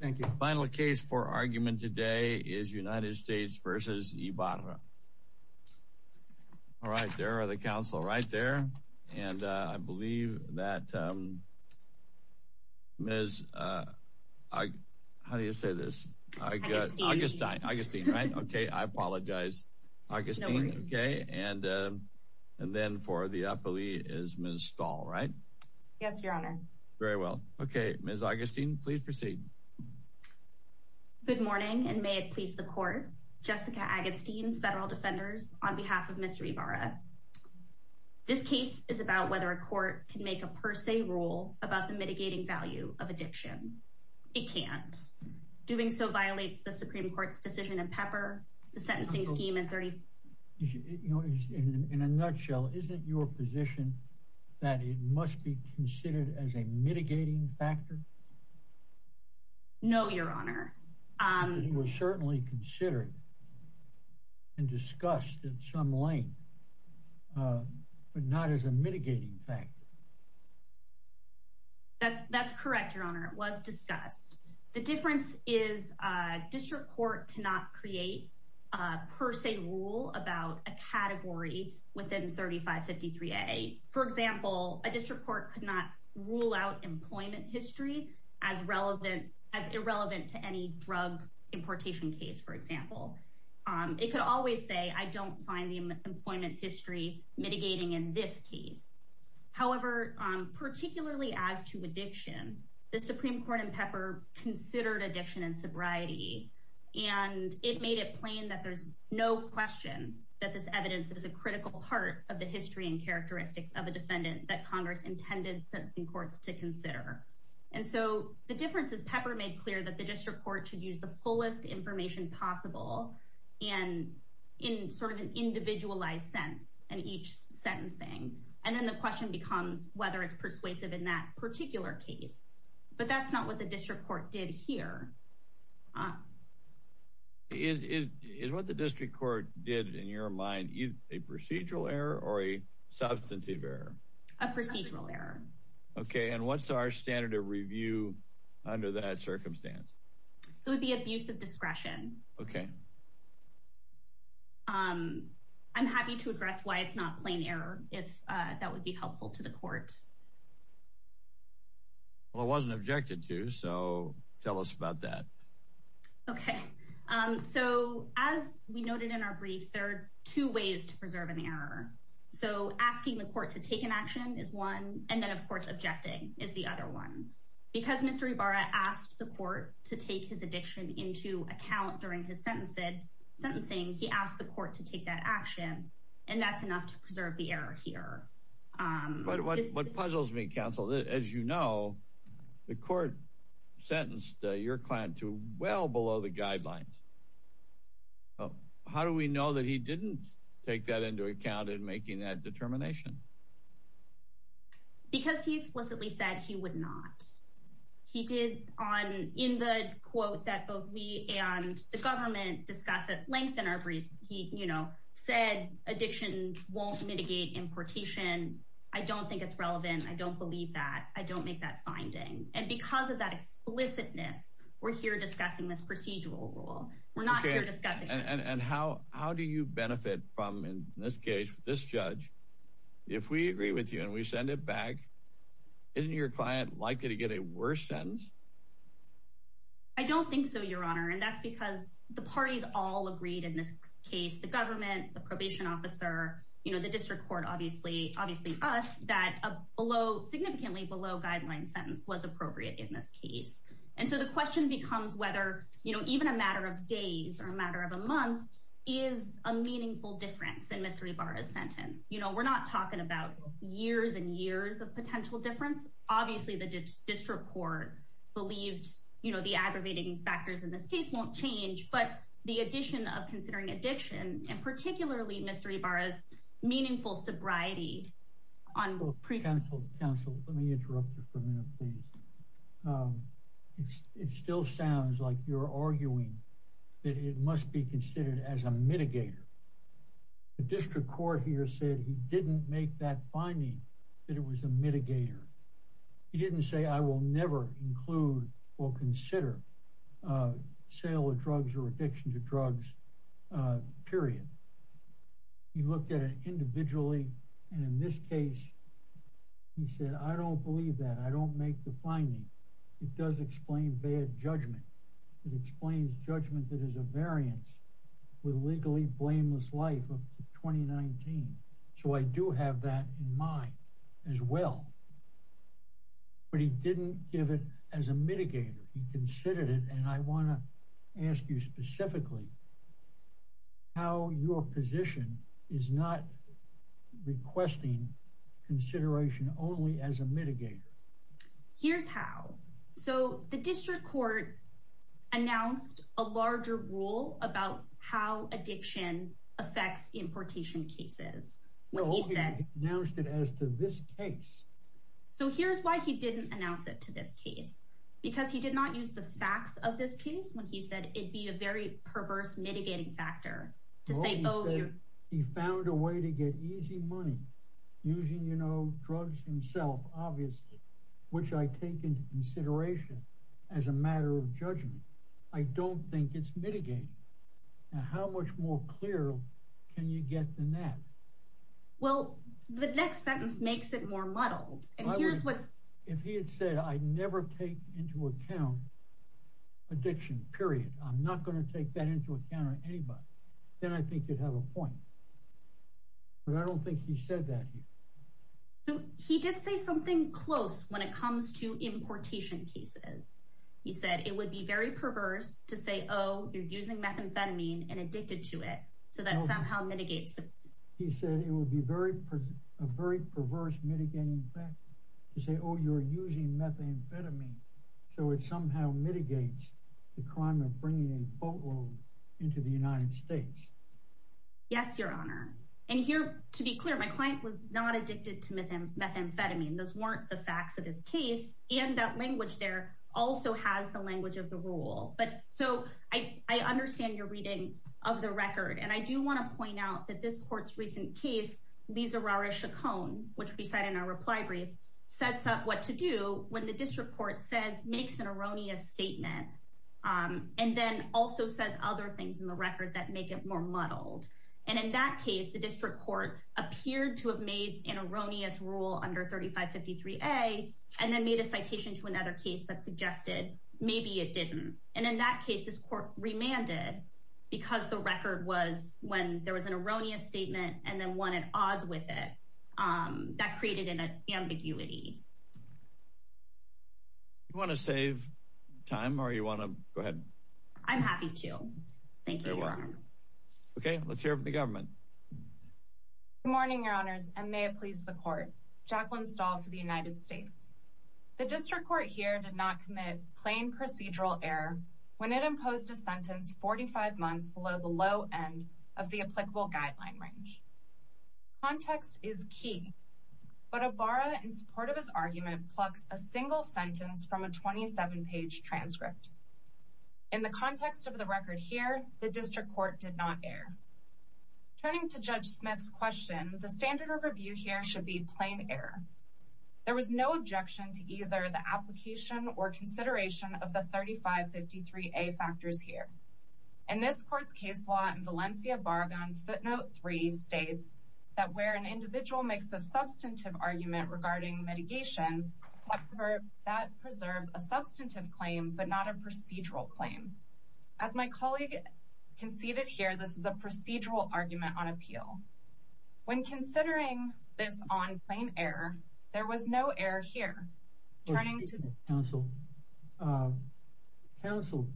thank you final case for argument today is United States versus Ibarra all right there are the council right there and I believe that miss I how do you say this I got Augustine right okay I apologize okay and and then for the good morning and may it please the court Jessica Agatstein federal defenders on behalf of mr. Ibarra this case is about whether a court can make a per se rule about the mitigating value of addiction it can't doing so violates the Supreme Court's decision and pepper the sentencing scheme in 30 in a nutshell isn't your position that it must be considered as a mitigating factor no your honor you will certainly consider and discussed in some length but not as a mitigating fact that that's correct your honor it was discussed the difference is district court cannot create per se rule about a category within 3553 a for example a district court could not rule out employment history as relevant as irrelevant to any drug importation case for example it could always say I don't find the employment history mitigating in this case however particularly as to addiction the Supreme Court and pepper considered addiction and sobriety and it made it plain that there's no question that this evidence is a critical part of the history and characteristics of a defendant that Congress intended sentencing courts to consider and so the difference is pepper made clear that the district court should use the fullest information possible and in sort of an individualized sense and each sentencing and then the question becomes whether it's persuasive in that particular case but that's not what the district court did here is what the district court did in your mind either a procedural error or a substantive error a procedural error okay and what's our standard of review under that circumstance it would be abuse of discretion okay I'm happy to address why it's not plain error if that would be helpful to the court well it wasn't objected to so tell us about that okay so as we noted in our briefs there are two ways to preserve an error so asking the court to take an action is one and then of course objecting is the other one because mr. Ibarra asked the court to take his addiction into account during his sentence said something he asked the court to take that action and that's enough to preserve the error here what puzzles me counsel that as you know the court sentenced your client to well below the guidelines how do we know that he didn't take that into account in making that determination because he explicitly said he would not he did on in the quote that both me and the government discuss it lengthen our brief he you know said addiction won't mitigate importation I don't think it's relevant I don't believe that I don't make that finding and because of that explicitness we're here discussing this procedural rule we're not and how how do you benefit from in this case this judge if we agree with you and we send it back isn't your client likely to get a worse sentence I don't think so your honor and that's because the parties all agreed in this case the government the probation officer you know the district court obviously obviously us that below significantly below guideline sentence was appropriate in this case and so the question becomes whether you know even a matter of days or a matter of a month is a meaningful difference in Mr. Ibarra's sentence you know we're not talking about years and years of potential difference obviously the district court believes you know the aggravating factors in this case won't change but the addition of considering addiction and particularly Mr. Ibarra's meaningful sobriety on pre counsel counsel let me interrupt you for a minute please it still sounds like you're arguing that it must be considered as a mitigator the district court here said he didn't make that finding that it was a mitigator he didn't say I will never include will consider sale of drugs or addiction to drugs period he looked at it individually and in this case he said I don't believe that I don't make the finding it does explain bad judgment it explains judgment that is a variance with legally blameless life of 2019 so I do have that in mind as well but he didn't give it as a mitigator he considered it and I want to ask you specifically how your position is not requesting consideration only as a mitigator here's how so the district court announced a larger rule about how addiction affects importation cases well he said announced it as to this case so here's why he didn't announce it to this case because he did not use the facts of this case when he said it'd be a very perverse mitigating factor to say oh you found a way to get easy money using you know drugs himself obviously which I take into consideration as a matter of judgment I don't think it's mitigating now how much more clear can you get than that well the next sentence makes it more muddled and here's what if he had said I never take into account addiction period I'm not going to take that into account anybody then I think you'd have a point but I don't think he said that he did say something close when it comes to importation cases he said it would be very perverse to say oh you're using methamphetamine and addicted to it so that somehow mitigates he said it would be very a very perverse mitigating to say oh you're using methamphetamine so it somehow mitigates the crime of bringing a boatload into the United States yes your honor and here to be clear my client was not addicted to methamphetamine those weren't the facts of his case and that language there also has the language of the rule but so I understand your reading of the record and I do want to in our reply brief sets up what to do when the district court says makes an erroneous statement and then also says other things in the record that make it more muddled and in that case the district court appeared to have made an erroneous rule under 3553 a and then made a citation to another case that suggested maybe it didn't and in that case this court remanded because the record was when there was an erroneous statement and then one at odds with it that created an ambiguity want to save time or you want to go ahead I'm happy to thank you okay let's hear from the government morning your honors and may it please the court Jacqueline stall for the United States the district court here did not commit plain procedural error when it imposed a sentence 45 months below the low end of the applicable guideline range context is key but a bar in support of his argument plucks a single sentence from a 27 page transcript in the context of the record here the district court did not air turning to judge Smith's question the standard of review here should be plain error there was no objection to either the application or consideration of the 3553 a factors here and this court's case law and Valencia bargain footnote three states that where an individual makes a substantive argument regarding mitigation that preserves a substantive claim but not a procedural claim as my colleague conceded here this is a procedural argument on appeal when counsel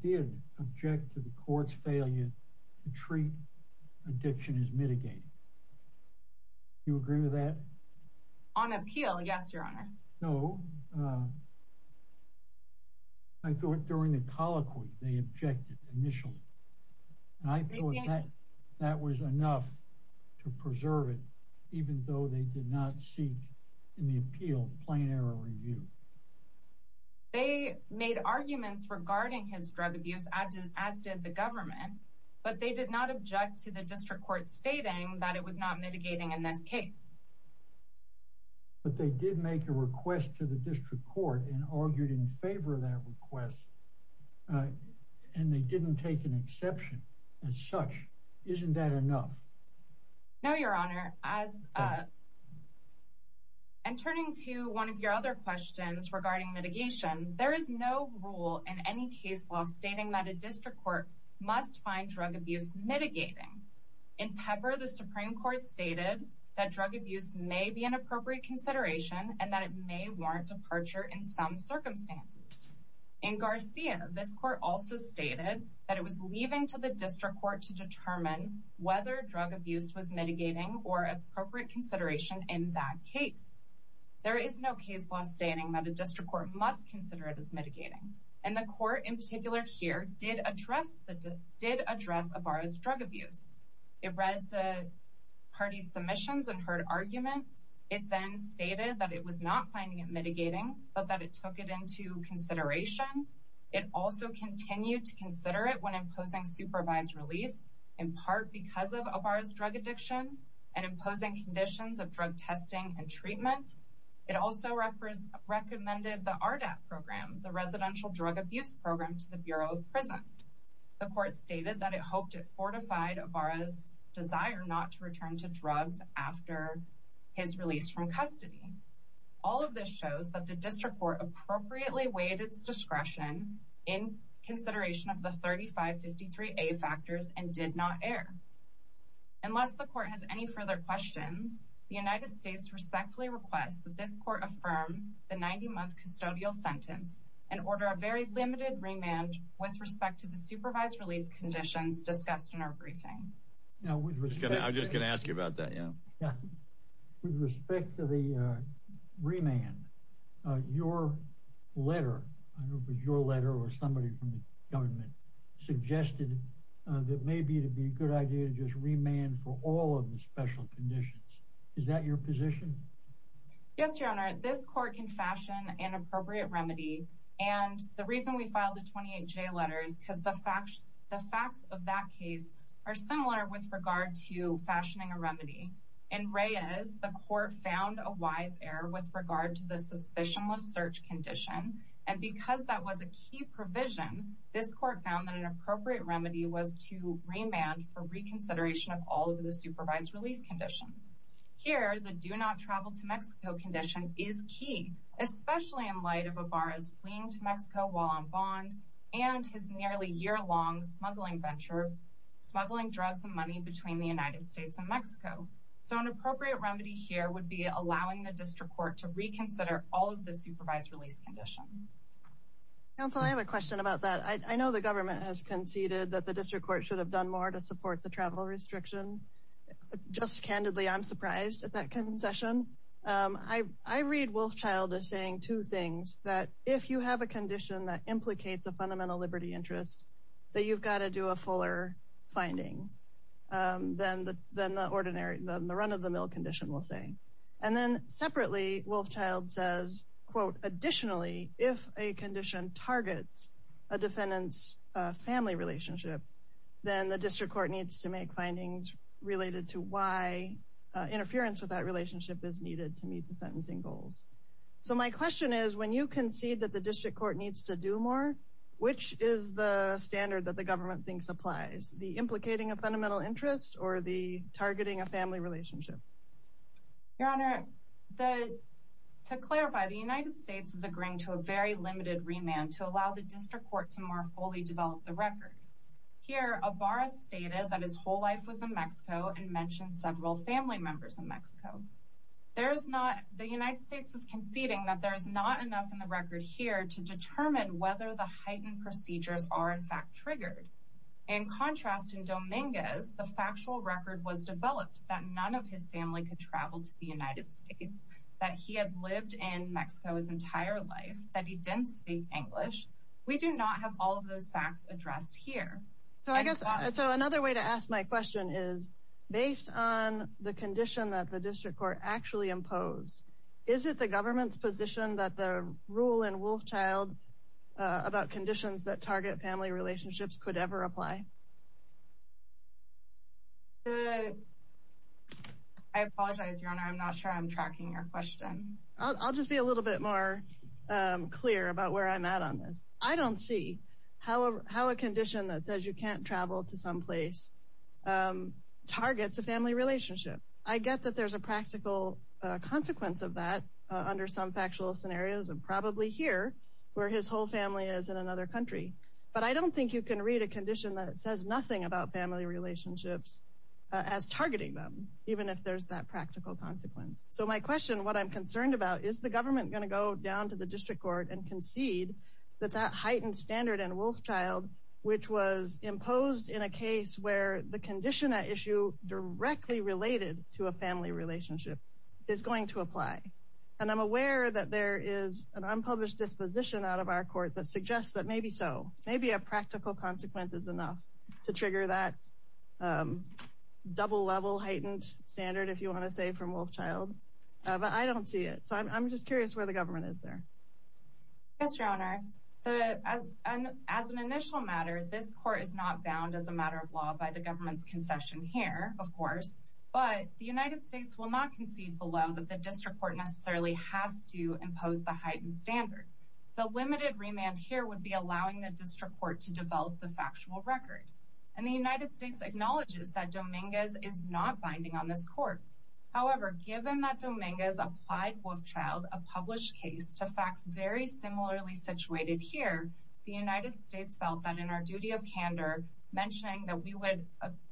did object to the court's failure to treat addiction is mitigating you agree with that on appeal yes your honor no I thought during the colloquy they objected initially I think that was enough to preserve it even though they did not seek in the appeal plain error review they made arguments regarding his drug abuse I did as did the government but they did not object to the district court stating that it was not mitigating in this case but they did make a request to the district court and argued in favor of that request and they didn't take an exception as such isn't that enough no your honor as and turning to one of your other questions regarding mitigation there is no rule in any case law stating that a district court must find drug abuse mitigating in pepper the Supreme Court stated that drug abuse may be an appropriate consideration and that it may warrant departure in some circumstances in Garcia this court also stated that it was leaving to the district court to determine whether drug abuse was mitigating or appropriate consideration in that case there is no case law stating that a district court must consider it as mitigating and the court in particular here did address that did address a bar as drug abuse it read the party submissions and heard argument it then stated that it was not finding it mitigating but that it took it into consideration it also continued to consider it when imposing supervised release in part because of of ours drug addiction and imposing conditions of drug testing and treatment it also records recommended the RDA program the residential drug abuse program to the Bureau of Presence the court stated that it hoped it fortified of ours desire not to return to drugs after his release from custody all of this shows that the 3553 a factors and did not air unless the court has any further questions the United States respectfully request that this court affirm the 90-month custodial sentence and order a very limited remand with respect to the supervised release conditions discussed in our briefing now we're just gonna I'm just gonna ask you about that yeah yeah with respect to the remand your letter your letter or somebody from the government suggested that may be to be a good idea to just remand for all of the special conditions is that your position yes your honor this court can fashion an appropriate remedy and the reason we filed a 28 J letters because the facts the facts of that case are similar with regard to fashioning a remedy and Reyes the court found a wise error with regard to the provision this court found an appropriate remedy was to remand for reconsideration of all of the supervised release conditions here the do not travel to Mexico condition is key especially in light of a bar is fleeing to Mexico while on bond and his nearly year-long smuggling venture smuggling drugs and money between the United States and Mexico so an appropriate remedy here would be allowing the district court to reconsider all of the I have a question about that I know the government has conceded that the district court should have done more to support the travel restriction just candidly I'm surprised at that concession I I read Wolfchild is saying two things that if you have a condition that implicates a fundamental liberty interest that you've got to do a fuller finding then the then the ordinary than the run-of-the-mill condition will say and then separately Wolfchild says quote additionally if a it's a defendant's family relationship then the district court needs to make findings related to why interference with that relationship is needed to meet the sentencing goals so my question is when you concede that the district court needs to do more which is the standard that the government thinks applies the implicating a fundamental interest or the targeting a family relationship your honor the to clarify the United States is agreeing to a very limited remand to allow the district court to more fully develop the record here a bar stated that his whole life was in Mexico and mentioned several family members in Mexico there's not the United States is conceding that there's not enough in the record here to determine whether the heightened procedures are in fact triggered in contrast in Dominguez the factual record was developed that none of his family could travel to the United States that he had lived in Mexico his entire life that he didn't speak English we do not have all of those facts addressed here so I guess so another way to ask my question is based on the condition that the district court actually imposed is it the government's position that the rule in Wolfchild about conditions that target family relationships could ever apply I apologize your honor I'm not sure I'm clear about where I'm at on this I don't see however how a condition that says you can't travel to some place targets a family relationship I get that there's a practical consequence of that under some factual scenarios and probably here where his whole family is in another country but I don't think you can read a condition that it says nothing about family relationships as targeting them even if there's that practical consequence so my question what I'm down to the district court and concede that that heightened standard and Wolfchild which was imposed in a case where the condition that issue directly related to a family relationship is going to apply and I'm aware that there is an unpublished disposition out of our court that suggests that maybe so maybe a practical consequence is enough to trigger that double level heightened standard if you want to say from Wolfchild but I don't see it so I'm just curious where the government is there as an initial matter this court is not bound as a matter of law by the government's concession here of course but the United States will not concede below that the district court necessarily has to impose the heightened standard the limited remand here would be allowing the district court to develop the factual record and the United States acknowledges that Dominguez is not binding on this court however given that Dominguez applied Wolfchild a published case to facts very similarly situated here the United States felt that in our duty of candor mentioning that we would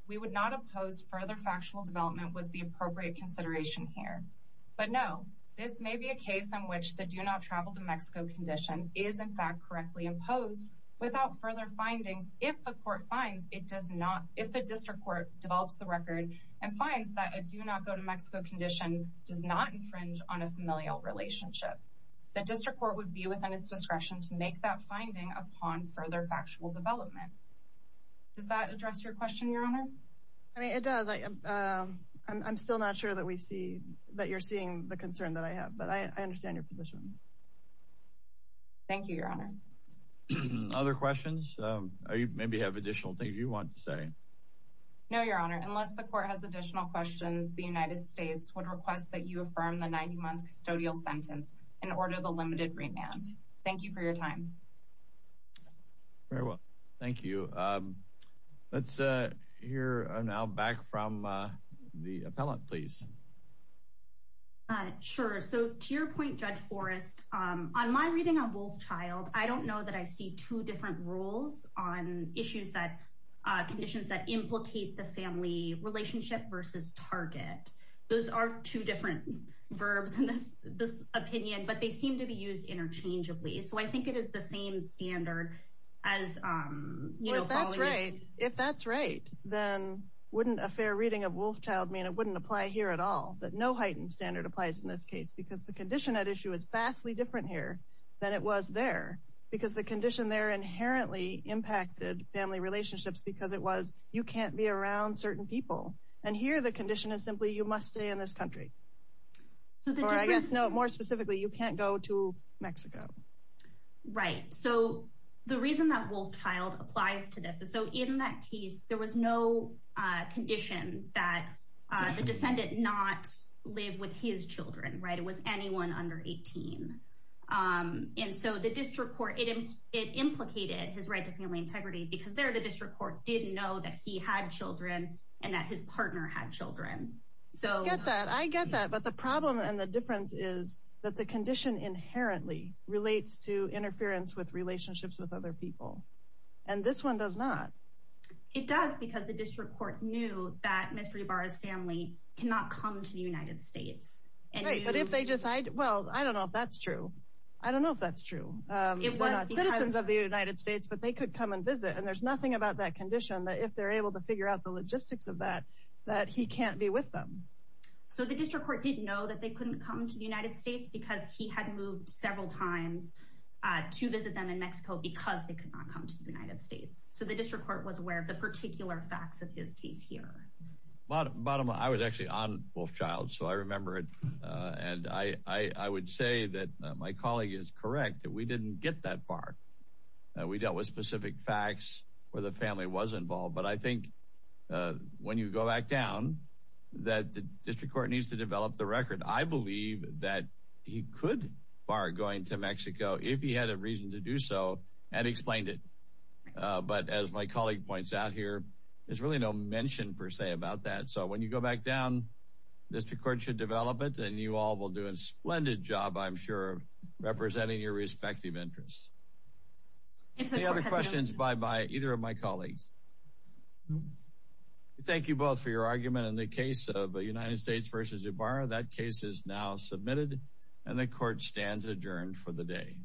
we would not oppose further factual development was the appropriate consideration here but no this may be a case in which the do not travel to Mexico condition is in fact correctly imposed without further findings if the court finds it does not if the district court develops the condition does not infringe on a familial relationship the district court would be within its discretion to make that finding upon further factual development does that address your question your honor I mean it does I I'm still not sure that we see that you're seeing the concern that I have but I understand your position thank you your honor other questions maybe have additional things you want to say no your honor unless the court has questions the United States would request that you affirm the 90-month custodial sentence in order the limited remand thank you for your time very well thank you let's hear now back from the appellant please sure so to your point judge Forrest on my reading on Wolfchild I don't know that I see two different rules on issues that conditions that implicate the family relationship versus target those are two different verbs in this opinion but they seem to be used interchangeably so I think it is the same standard as if that's right then wouldn't a fair reading of Wolfchild mean it wouldn't apply here at all that no heightened standard applies in this case because the condition at issue is inherently impacted family relationships because it was you can't be around certain people and here the condition is simply you must stay in this country so I guess no more specifically you can't go to Mexico right so the reason that Wolfchild applies to this is so in that case there was no condition that the defendant not live with his children right it was anyone under 18 and so the district court it implicated his right to family integrity because there the district court didn't know that he had children and that his partner had children so I get that but the problem and the difference is that the condition inherently relates to interference with relationships with other people and this one does not it does because the district court knew that mystery bars family cannot come to the United States and if they decide well I don't know if that's true I don't know if that's true citizens of the United States but they could come and visit and there's nothing about that condition that if they're able to figure out the logistics of that that he can't be with them so the district court didn't know that they couldn't come to the United States because he had moved several times to visit them in Mexico because they could not come to the United States so the district court was aware of the particular facts of his case here but and I I would say that my colleague is correct that we didn't get that far we dealt with specific facts where the family was involved but I think when you go back down that the district court needs to develop the record I believe that he could bar going to Mexico if he had a reason to do so and explained it but as my colleague points out here there's really no mention per se about that so when you go back down this record should develop it and you all will do a splendid job I'm sure representing your respective interests questions by by either of my colleagues thank you both for your argument in the case of the United States versus a bar that case is now submitted and the court stands adjourned for the day